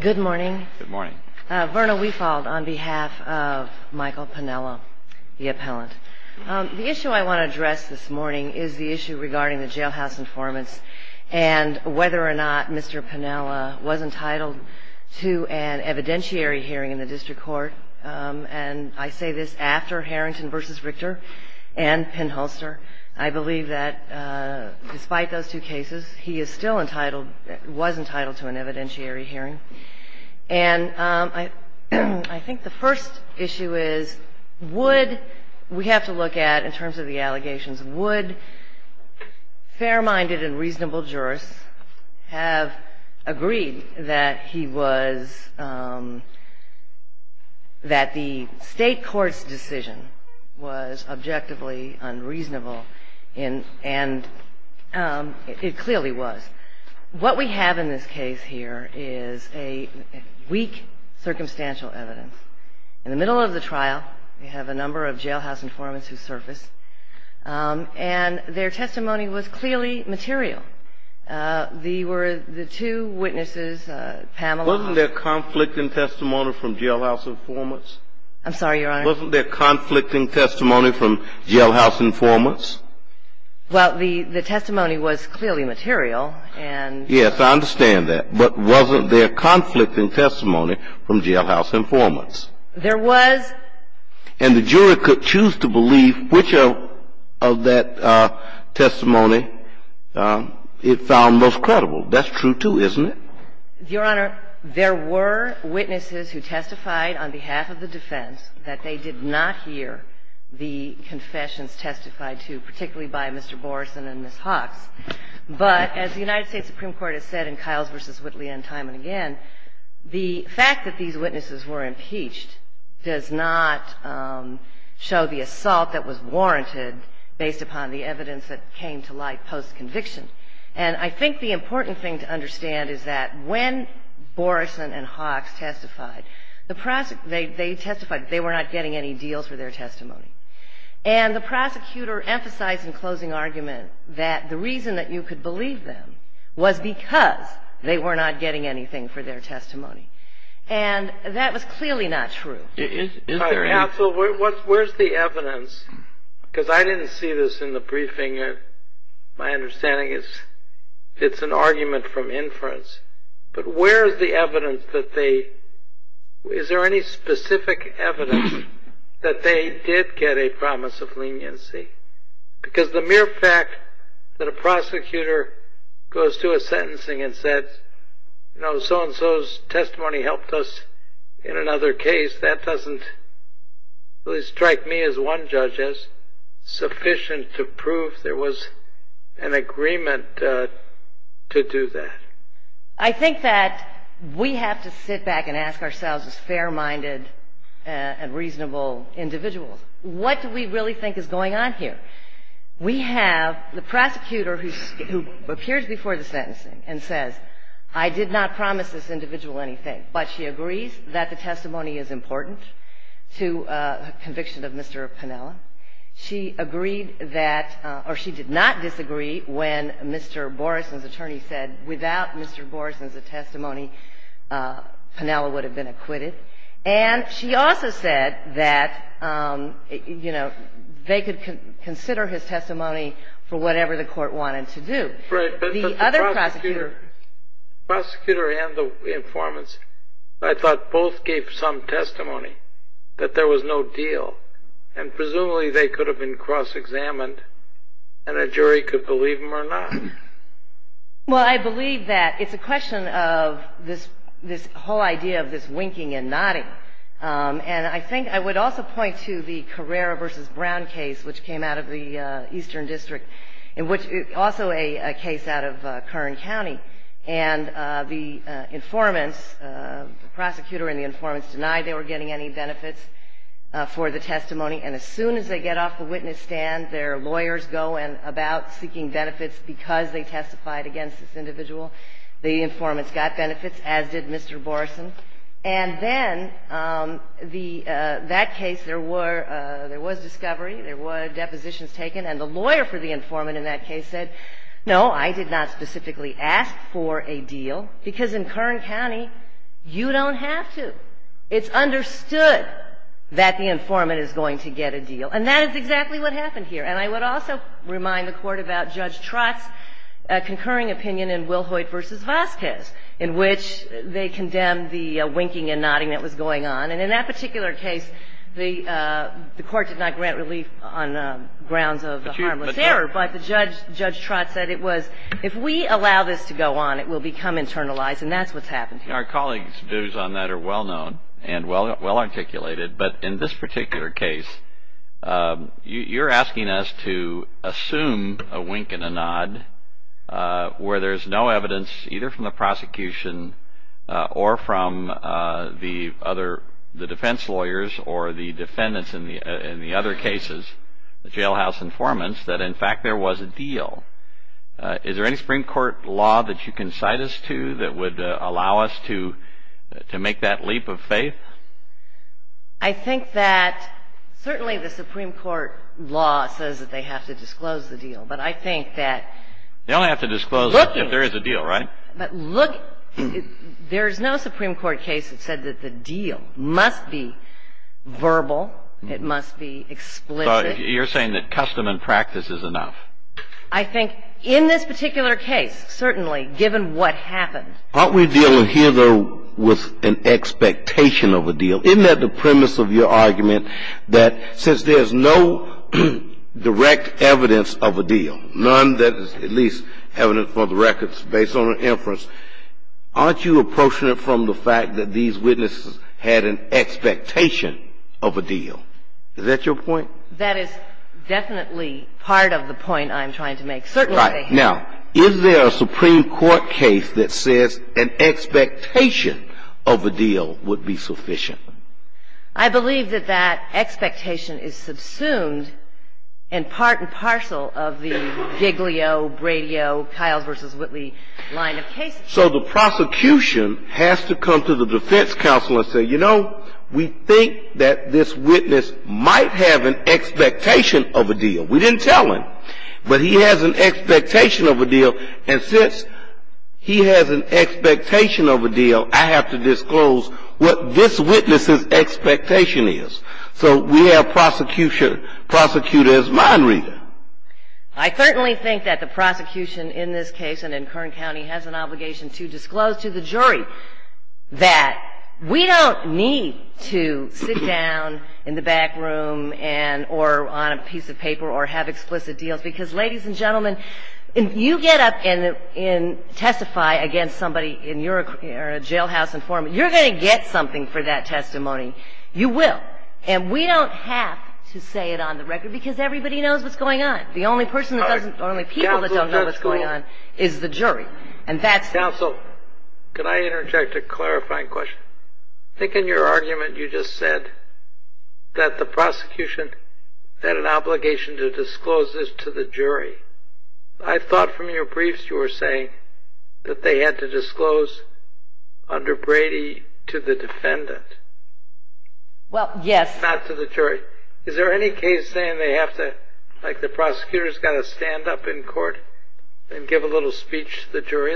Good morning. Verna Weefald on behalf of Michael Panella, the appellant. The issue I want to address this morning is the issue regarding the jailhouse informants and whether or not Mr. Panella was entitled to an evidentiary hearing in the district court. And I say this after Harrington v. Richter and Penn-Hulster. I believe that despite those two cases, he is still entitled, was entitled to an evidentiary hearing. And I think the first issue is would, we have to look at in terms of the allegations, would fair-minded and reasonable jurists have agreed that he was, that the state court's decision was objectively unreasonable, and it clearly was. What we have in this case here is a weak circumstantial evidence. In the middle of the trial, we have a number of jailhouse informants who surfaced, and their testimony was clearly material. The two witnesses, Panella. Wasn't there conflict in testimony from jailhouse informants? I'm sorry, Your Honor. Wasn't there conflict in testimony from jailhouse informants? Well, the testimony was clearly material. Yes, I understand that. But wasn't there conflict in testimony from jailhouse informants? There was. And the jury could choose to believe which of that testimony it found most credible. That's true, too, isn't it? Your Honor, there were witnesses who testified on behalf of the defense that they did not hear the confessions testified to, particularly by Mr. Boreson and Ms. Hawkes. But as the United States Supreme Court has said in Kiles v. Whitley and time and again, the fact that these witnesses were impeached does not show the assault that was warranted based upon the evidence that came to light post-conviction. And I think the important thing to understand is that when Boreson and Hawkes testified, they testified they were not getting any deals for their testimony. And the prosecutor emphasized in closing argument that the reason that you could believe them was because they were not getting anything for their testimony. And that was clearly not true. Counsel, where's the evidence? Because I didn't see this in the briefing. My understanding is it's an argument from inference. But where is the evidence that they – is there any specific evidence that they did get a promise of leniency? Because the mere fact that a prosecutor goes to a sentencing and says, you know, so-and-so's testimony helped us in another case, that doesn't at least strike me as one judge as sufficient to prove there was an agreement to do that. I think that we have to sit back and ask ourselves as fair-minded and reasonable individuals, what do we really think is going on here? We have the prosecutor who appears before the sentencing and says, I did not promise this individual anything. But she agrees that the testimony is important to a conviction of Mr. Piniella. She agreed that – or she did not disagree when Mr. Boreson's attorney said without Mr. Boreson's testimony, Piniella would have been acquitted. And she also said that, you know, they could consider his testimony for whatever the court wanted to do. Right, but the prosecutor and the informants, I thought both gave some testimony that there was no deal. And presumably they could have been cross-examined and a jury could believe them or not. Well, I believe that it's a question of this whole idea of this winking and nodding. And I think I would also point to the Carrera v. Brown case, which came out of the Eastern District, and which is also a case out of Kern County. And the informants, the prosecutor and the informants, denied they were getting any benefits for the testimony. And as soon as they get off the witness stand, their lawyers go about seeking benefits because they testified against this individual. The informants got benefits, as did Mr. Boreson. And then the – that case, there were – there was discovery, there were depositions taken, and the lawyer for the informant in that case said, no, I did not specifically ask for a deal, because in Kern County, you don't have to. It's understood that the informant is going to get a deal. And that is exactly what happened here. And I would also remind the Court about Judge Trott's concurring opinion in Wilhoyt v. Vasquez, in which they condemned the winking and nodding that was going on. And in that particular case, the Court did not grant relief on grounds of the harmless error, but the judge, Judge Trott, said it was, if we allow this to go on, it will become internalized. And that's what's happened here. I think our colleagues' views on that are well-known and well-articulated. But in this particular case, you're asking us to assume a wink and a nod where there's no evidence, either from the prosecution or from the other – the defense lawyers or the defendants in the other cases, the jailhouse informants, that, in fact, there was a deal. Is there any Supreme Court law that you can cite us to that would allow us to make that leap of faith? I think that certainly the Supreme Court law says that they have to disclose the deal. But I think that – They only have to disclose it if there is a deal, right? But look – there's no Supreme Court case that said that the deal must be verbal, it must be explicit. So you're saying that custom and practice is enough? I think in this particular case, certainly, given what happened. Aren't we dealing here, though, with an expectation of a deal? Isn't that the premise of your argument, that since there's no direct evidence of a deal, none that is at least evident for the records based on an inference, aren't you approaching it from the fact that these witnesses had an expectation of a deal? Is that your point? Well, that is definitely part of the point I'm trying to make. Certainly, they have – Right. Now, is there a Supreme Court case that says an expectation of a deal would be sufficient? I believe that that expectation is subsumed and part and parcel of the Giglio, Bradio, Kyles v. Whitley line of cases. So the prosecution has to come to the defense counsel and say, you know, we think that this witness might have an expectation of a deal. We didn't tell him, but he has an expectation of a deal. And since he has an expectation of a deal, I have to disclose what this witness's expectation is. So we have prosecutor as mind reader. I certainly think that the prosecution in this case and in Kern County has an obligation to disclose to the jury that we don't need to sit down in the back room and – or on a piece of paper or have explicit deals, because, ladies and gentlemen, if you get up and testify against somebody and you're a jailhouse informant, you're going to get something for that testimony. You will. And we don't have to say it on the record, because everybody knows what's going on. The only person that doesn't – or only people that don't know what's going on is the jury. Counsel, could I interject a clarifying question? I think in your argument you just said that the prosecution had an obligation to disclose this to the jury. I thought from your briefs you were saying that they had to disclose under Brady to the defendant. Well, yes. Not to the jury. Is there any case saying they have to – like the prosecutor's got to stand up in court and give a little speech to the jury,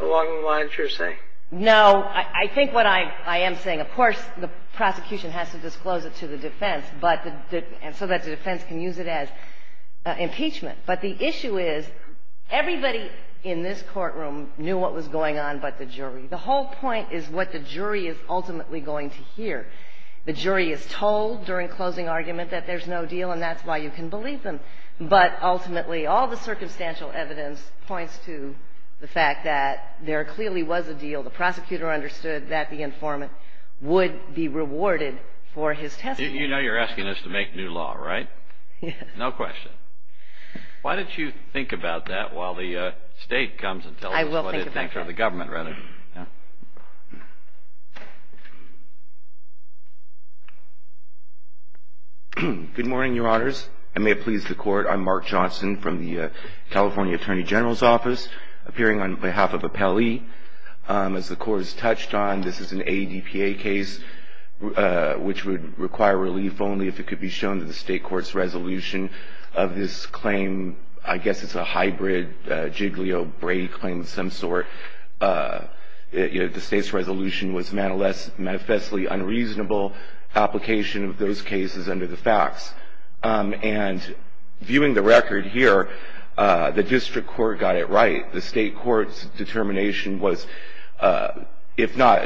along the lines you're saying? No. I think what I am saying, of course the prosecution has to disclose it to the defense, but – and so that the defense can use it as impeachment. But the issue is everybody in this courtroom knew what was going on but the jury. The whole point is what the jury is ultimately going to hear. The jury is told during closing argument that there's no deal, and that's why you can believe them. But ultimately all the circumstantial evidence points to the fact that there clearly was a deal. The prosecutor understood that the informant would be rewarded for his testimony. You know you're asking us to make new law, right? Yes. No question. Why don't you think about that while the State comes and tells us what it thinks. I will think about that. Or the government, rather. Good morning, Your Honors. I may have pleased the Court. I'm Mark Johnson from the California Attorney General's Office, appearing on behalf of Appellee. As the Court has touched on, this is an ADPA case which would require relief only if it could be shown that the State Court's resolution of this claim, I guess it's a hybrid Jiglio-Brady claim of some sort, the State's resolution was manifestly unreasonable, application of those cases under the facts. And viewing the record here, the District Court got it right. The State Court's determination was, if not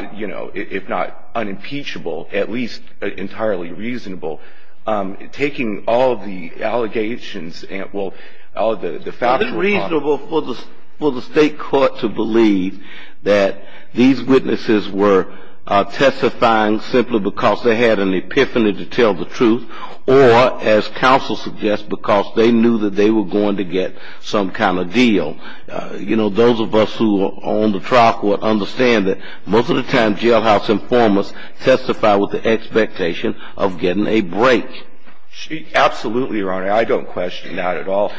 unimpeachable, at least entirely reasonable. Taking all the allegations, well, all the facts. It's unreasonable for the State Court to believe that these witnesses were testifying simply because they had an epiphany to tell the truth, or, as counsel suggests, because they knew that they were going to get some kind of deal. You know, those of us who are on the trial court understand that most of the time, jailhouse informers testify with the expectation of getting a break. Absolutely, Your Honor. I don't question that at all.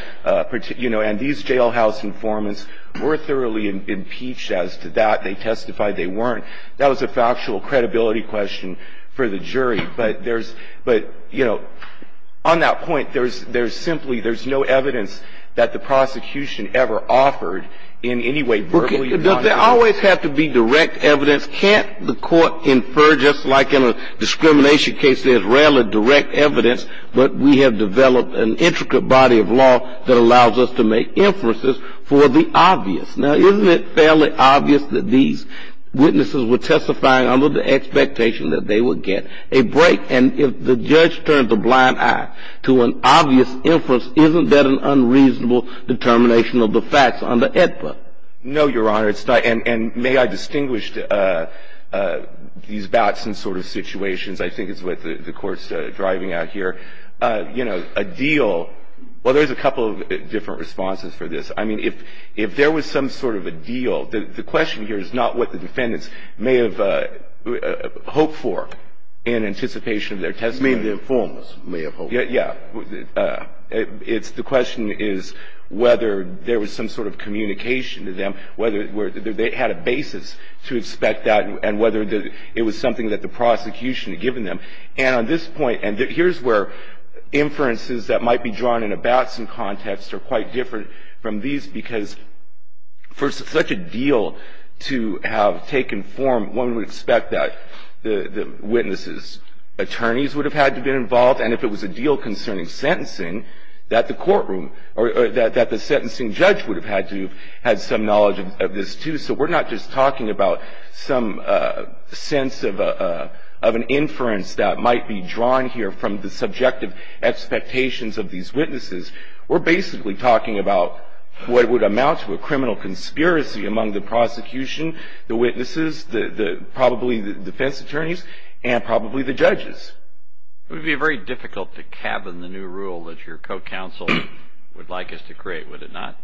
You know, and these jailhouse informants were thoroughly impeached as to that. They testified. They weren't. That was a factual credibility question for the jury. But there's – but, you know, on that point, there's simply – there's no evidence that the prosecution ever offered in any way verbally or not. Does there always have to be direct evidence? Can't the Court infer, just like in a discrimination case, there's rarely direct evidence, but we have developed an intricate body of law that allows us to make inferences for the obvious. Now, isn't it fairly obvious that these witnesses were testifying under the expectation that they would get a break? And if the judge turned a blind eye to an obvious inference, isn't that an unreasonable determination of the facts under AEDPA? No, Your Honor. Your Honor, it's not – and may I distinguish these bouts and sort of situations? I think it's what the Court's driving at here. You know, a deal – well, there's a couple of different responses for this. I mean, if there was some sort of a deal, the question here is not what the defendants may have hoped for in anticipation of their testimony. You mean the informers may have hoped for it? Yeah. It's – the question is whether there was some sort of communication to them, whether they had a basis to expect that, and whether it was something that the prosecution had given them. And on this point – and here's where inferences that might be drawn in a Batson context are quite different from these, because for such a deal to have taken form, one would expect that the witnesses' attorneys would have had to be involved. And if it was a deal concerning sentencing, that the courtroom – or that the sentencing judge would have had to have had some knowledge of this, too. So we're not just talking about some sense of an inference that might be drawn here from the subjective expectations of these witnesses. We're basically talking about what would amount to a criminal conspiracy among the prosecution, the witnesses, probably the defense attorneys, and probably the judges. It would be very difficult to cabin the new rule that your co-counsel would like us to create, would it not?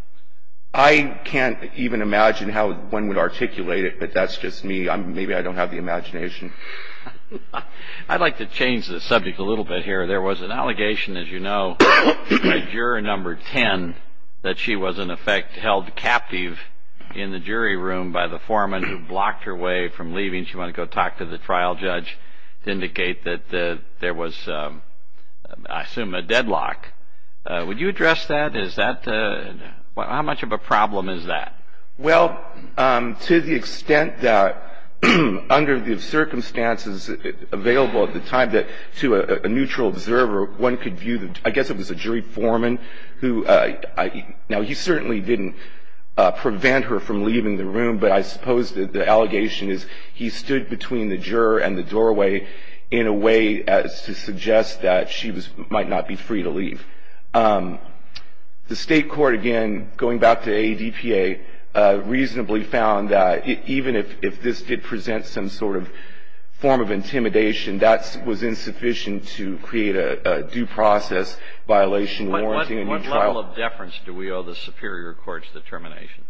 I can't even imagine how one would articulate it, but that's just me. Maybe I don't have the imagination. I'd like to change the subject a little bit here. There was an allegation, as you know, by juror number 10, that she was in effect held captive in the jury room by the foreman who blocked her way from leaving. That means you want to go talk to the trial judge to indicate that there was, I assume, a deadlock. Would you address that? Is that – how much of a problem is that? Well, to the extent that under the circumstances available at the time that to a neutral observer, one could view – I guess it was a jury foreman who – now, he certainly didn't prevent her from leaving the room, but I suppose the allegation is he stood between the juror and the doorway in a way to suggest that she might not be free to leave. The State court, again, going back to ADPA, reasonably found that even if this did present some sort of form of intimidation, that was insufficient to create a due process violation warranting a new trial. How well of deference do we owe the superior court's determination?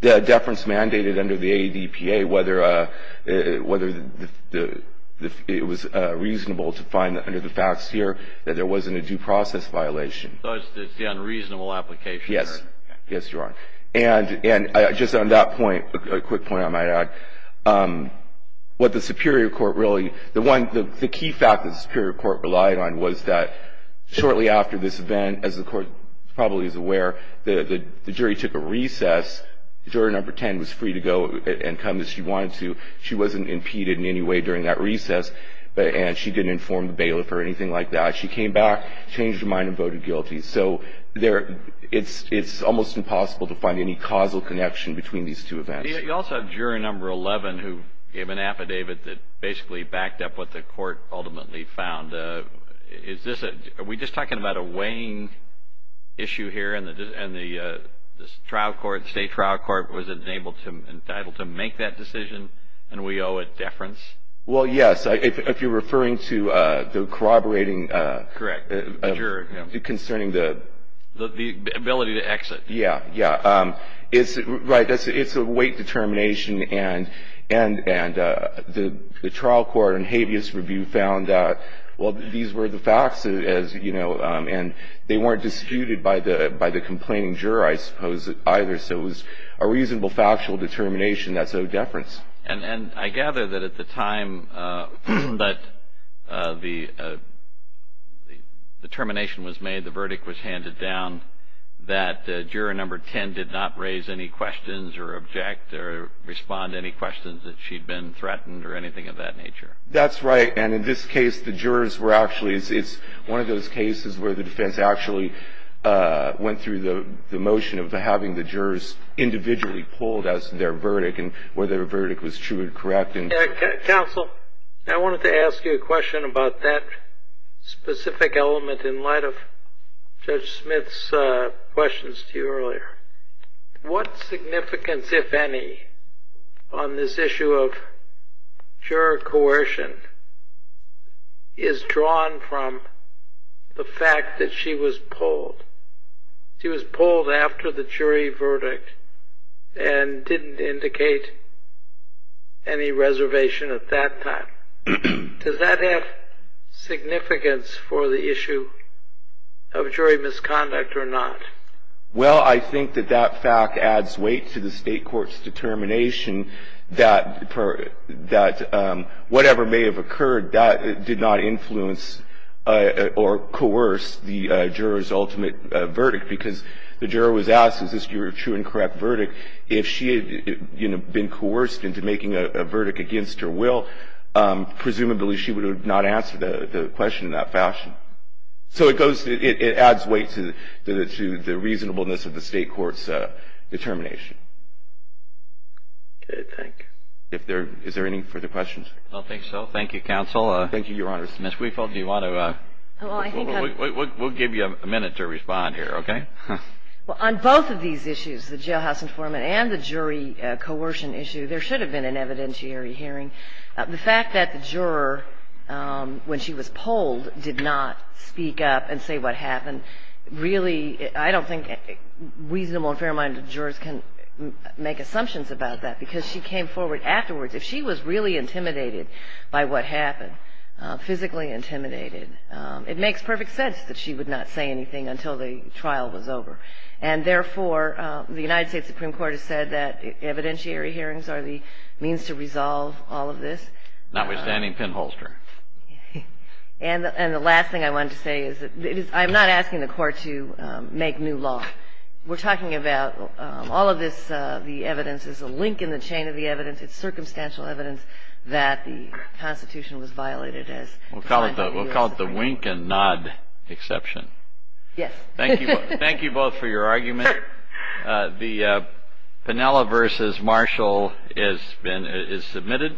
The deference mandated under the ADPA whether it was reasonable to find under the facts here that there wasn't a due process violation. So it's the unreasonable application. Yes. Yes, Your Honor. And just on that point, a quick point I might add, what the superior court really – the one – was that shortly after this event, as the court probably is aware, the jury took a recess. Juror number 10 was free to go and come as she wanted to. She wasn't impeded in any way during that recess, and she didn't inform the bailiff or anything like that. She came back, changed her mind, and voted guilty. So there – it's almost impossible to find any causal connection between these two events. You also have juror number 11 who gave an affidavit that basically backed up what the court ultimately found. Is this – are we just talking about a weighing issue here and the trial court, the state trial court was entitled to make that decision, and we owe it deference? Well, yes. If you're referring to the corroborating – Correct. Juror. Concerning the – The ability to exit. Yeah. Yeah. It's – right. It's a weight determination, and the trial court and habeas review found that, well, these were the facts, as you know, and they weren't disputed by the complaining juror, I suppose, either. So it was a reasonable factual determination. That's owed deference. And I gather that at the time that the determination was made, the verdict was handed down that juror number 10 did not raise any questions or object or respond to any questions that she'd been threatened or anything of that nature. That's right, and in this case, the jurors were actually – it's one of those cases where the defense actually went through the motion of having the jurors individually pulled as their verdict and whether the verdict was true and correct. Counsel, I wanted to ask you a question about that specific element in light of Judge Smith's questions to you earlier. What significance, if any, on this issue of juror coercion is drawn from the fact that she was pulled? She was pulled after the jury verdict and didn't indicate any reservation at that time. Does that have significance for the issue of jury misconduct or not? Well, I think that that fact adds weight to the state court's determination that whatever may have occurred, that did not influence or coerce the juror's ultimate verdict because the juror was asked, is this your true and correct verdict? If she had, you know, been coerced into making a verdict against her will, presumably she would have not answered the question in that fashion. So it goes – it adds weight to the reasonableness of the state court's determination. Okay, thank you. Is there any further questions? I don't think so. Thank you, Counsel. Thank you, Your Honor. Ms. Weafel, do you want to – we'll give you a minute to respond here, okay? Well, on both of these issues, the jailhouse informant and the jury coercion issue, there should have been an evidentiary hearing. The fact that the juror, when she was pulled, did not speak up and say what happened, really I don't think reasonable and fair-minded jurors can make assumptions about that because she came forward afterwards. If she was really intimidated by what happened, physically intimidated, it makes perfect sense that she would not say anything until the trial was over. And, therefore, the United States Supreme Court has said that evidentiary hearings are the means to resolve all of this. Notwithstanding pinholster. And the last thing I wanted to say is that I'm not asking the Court to make new law. We're talking about all of this, the evidence, is a link in the chain of the evidence. It's circumstantial evidence that the Constitution was violated. We'll call it the wink and nod exception. Yes. Thank you both for your argument. The Pinhella v. Marshall is submitted.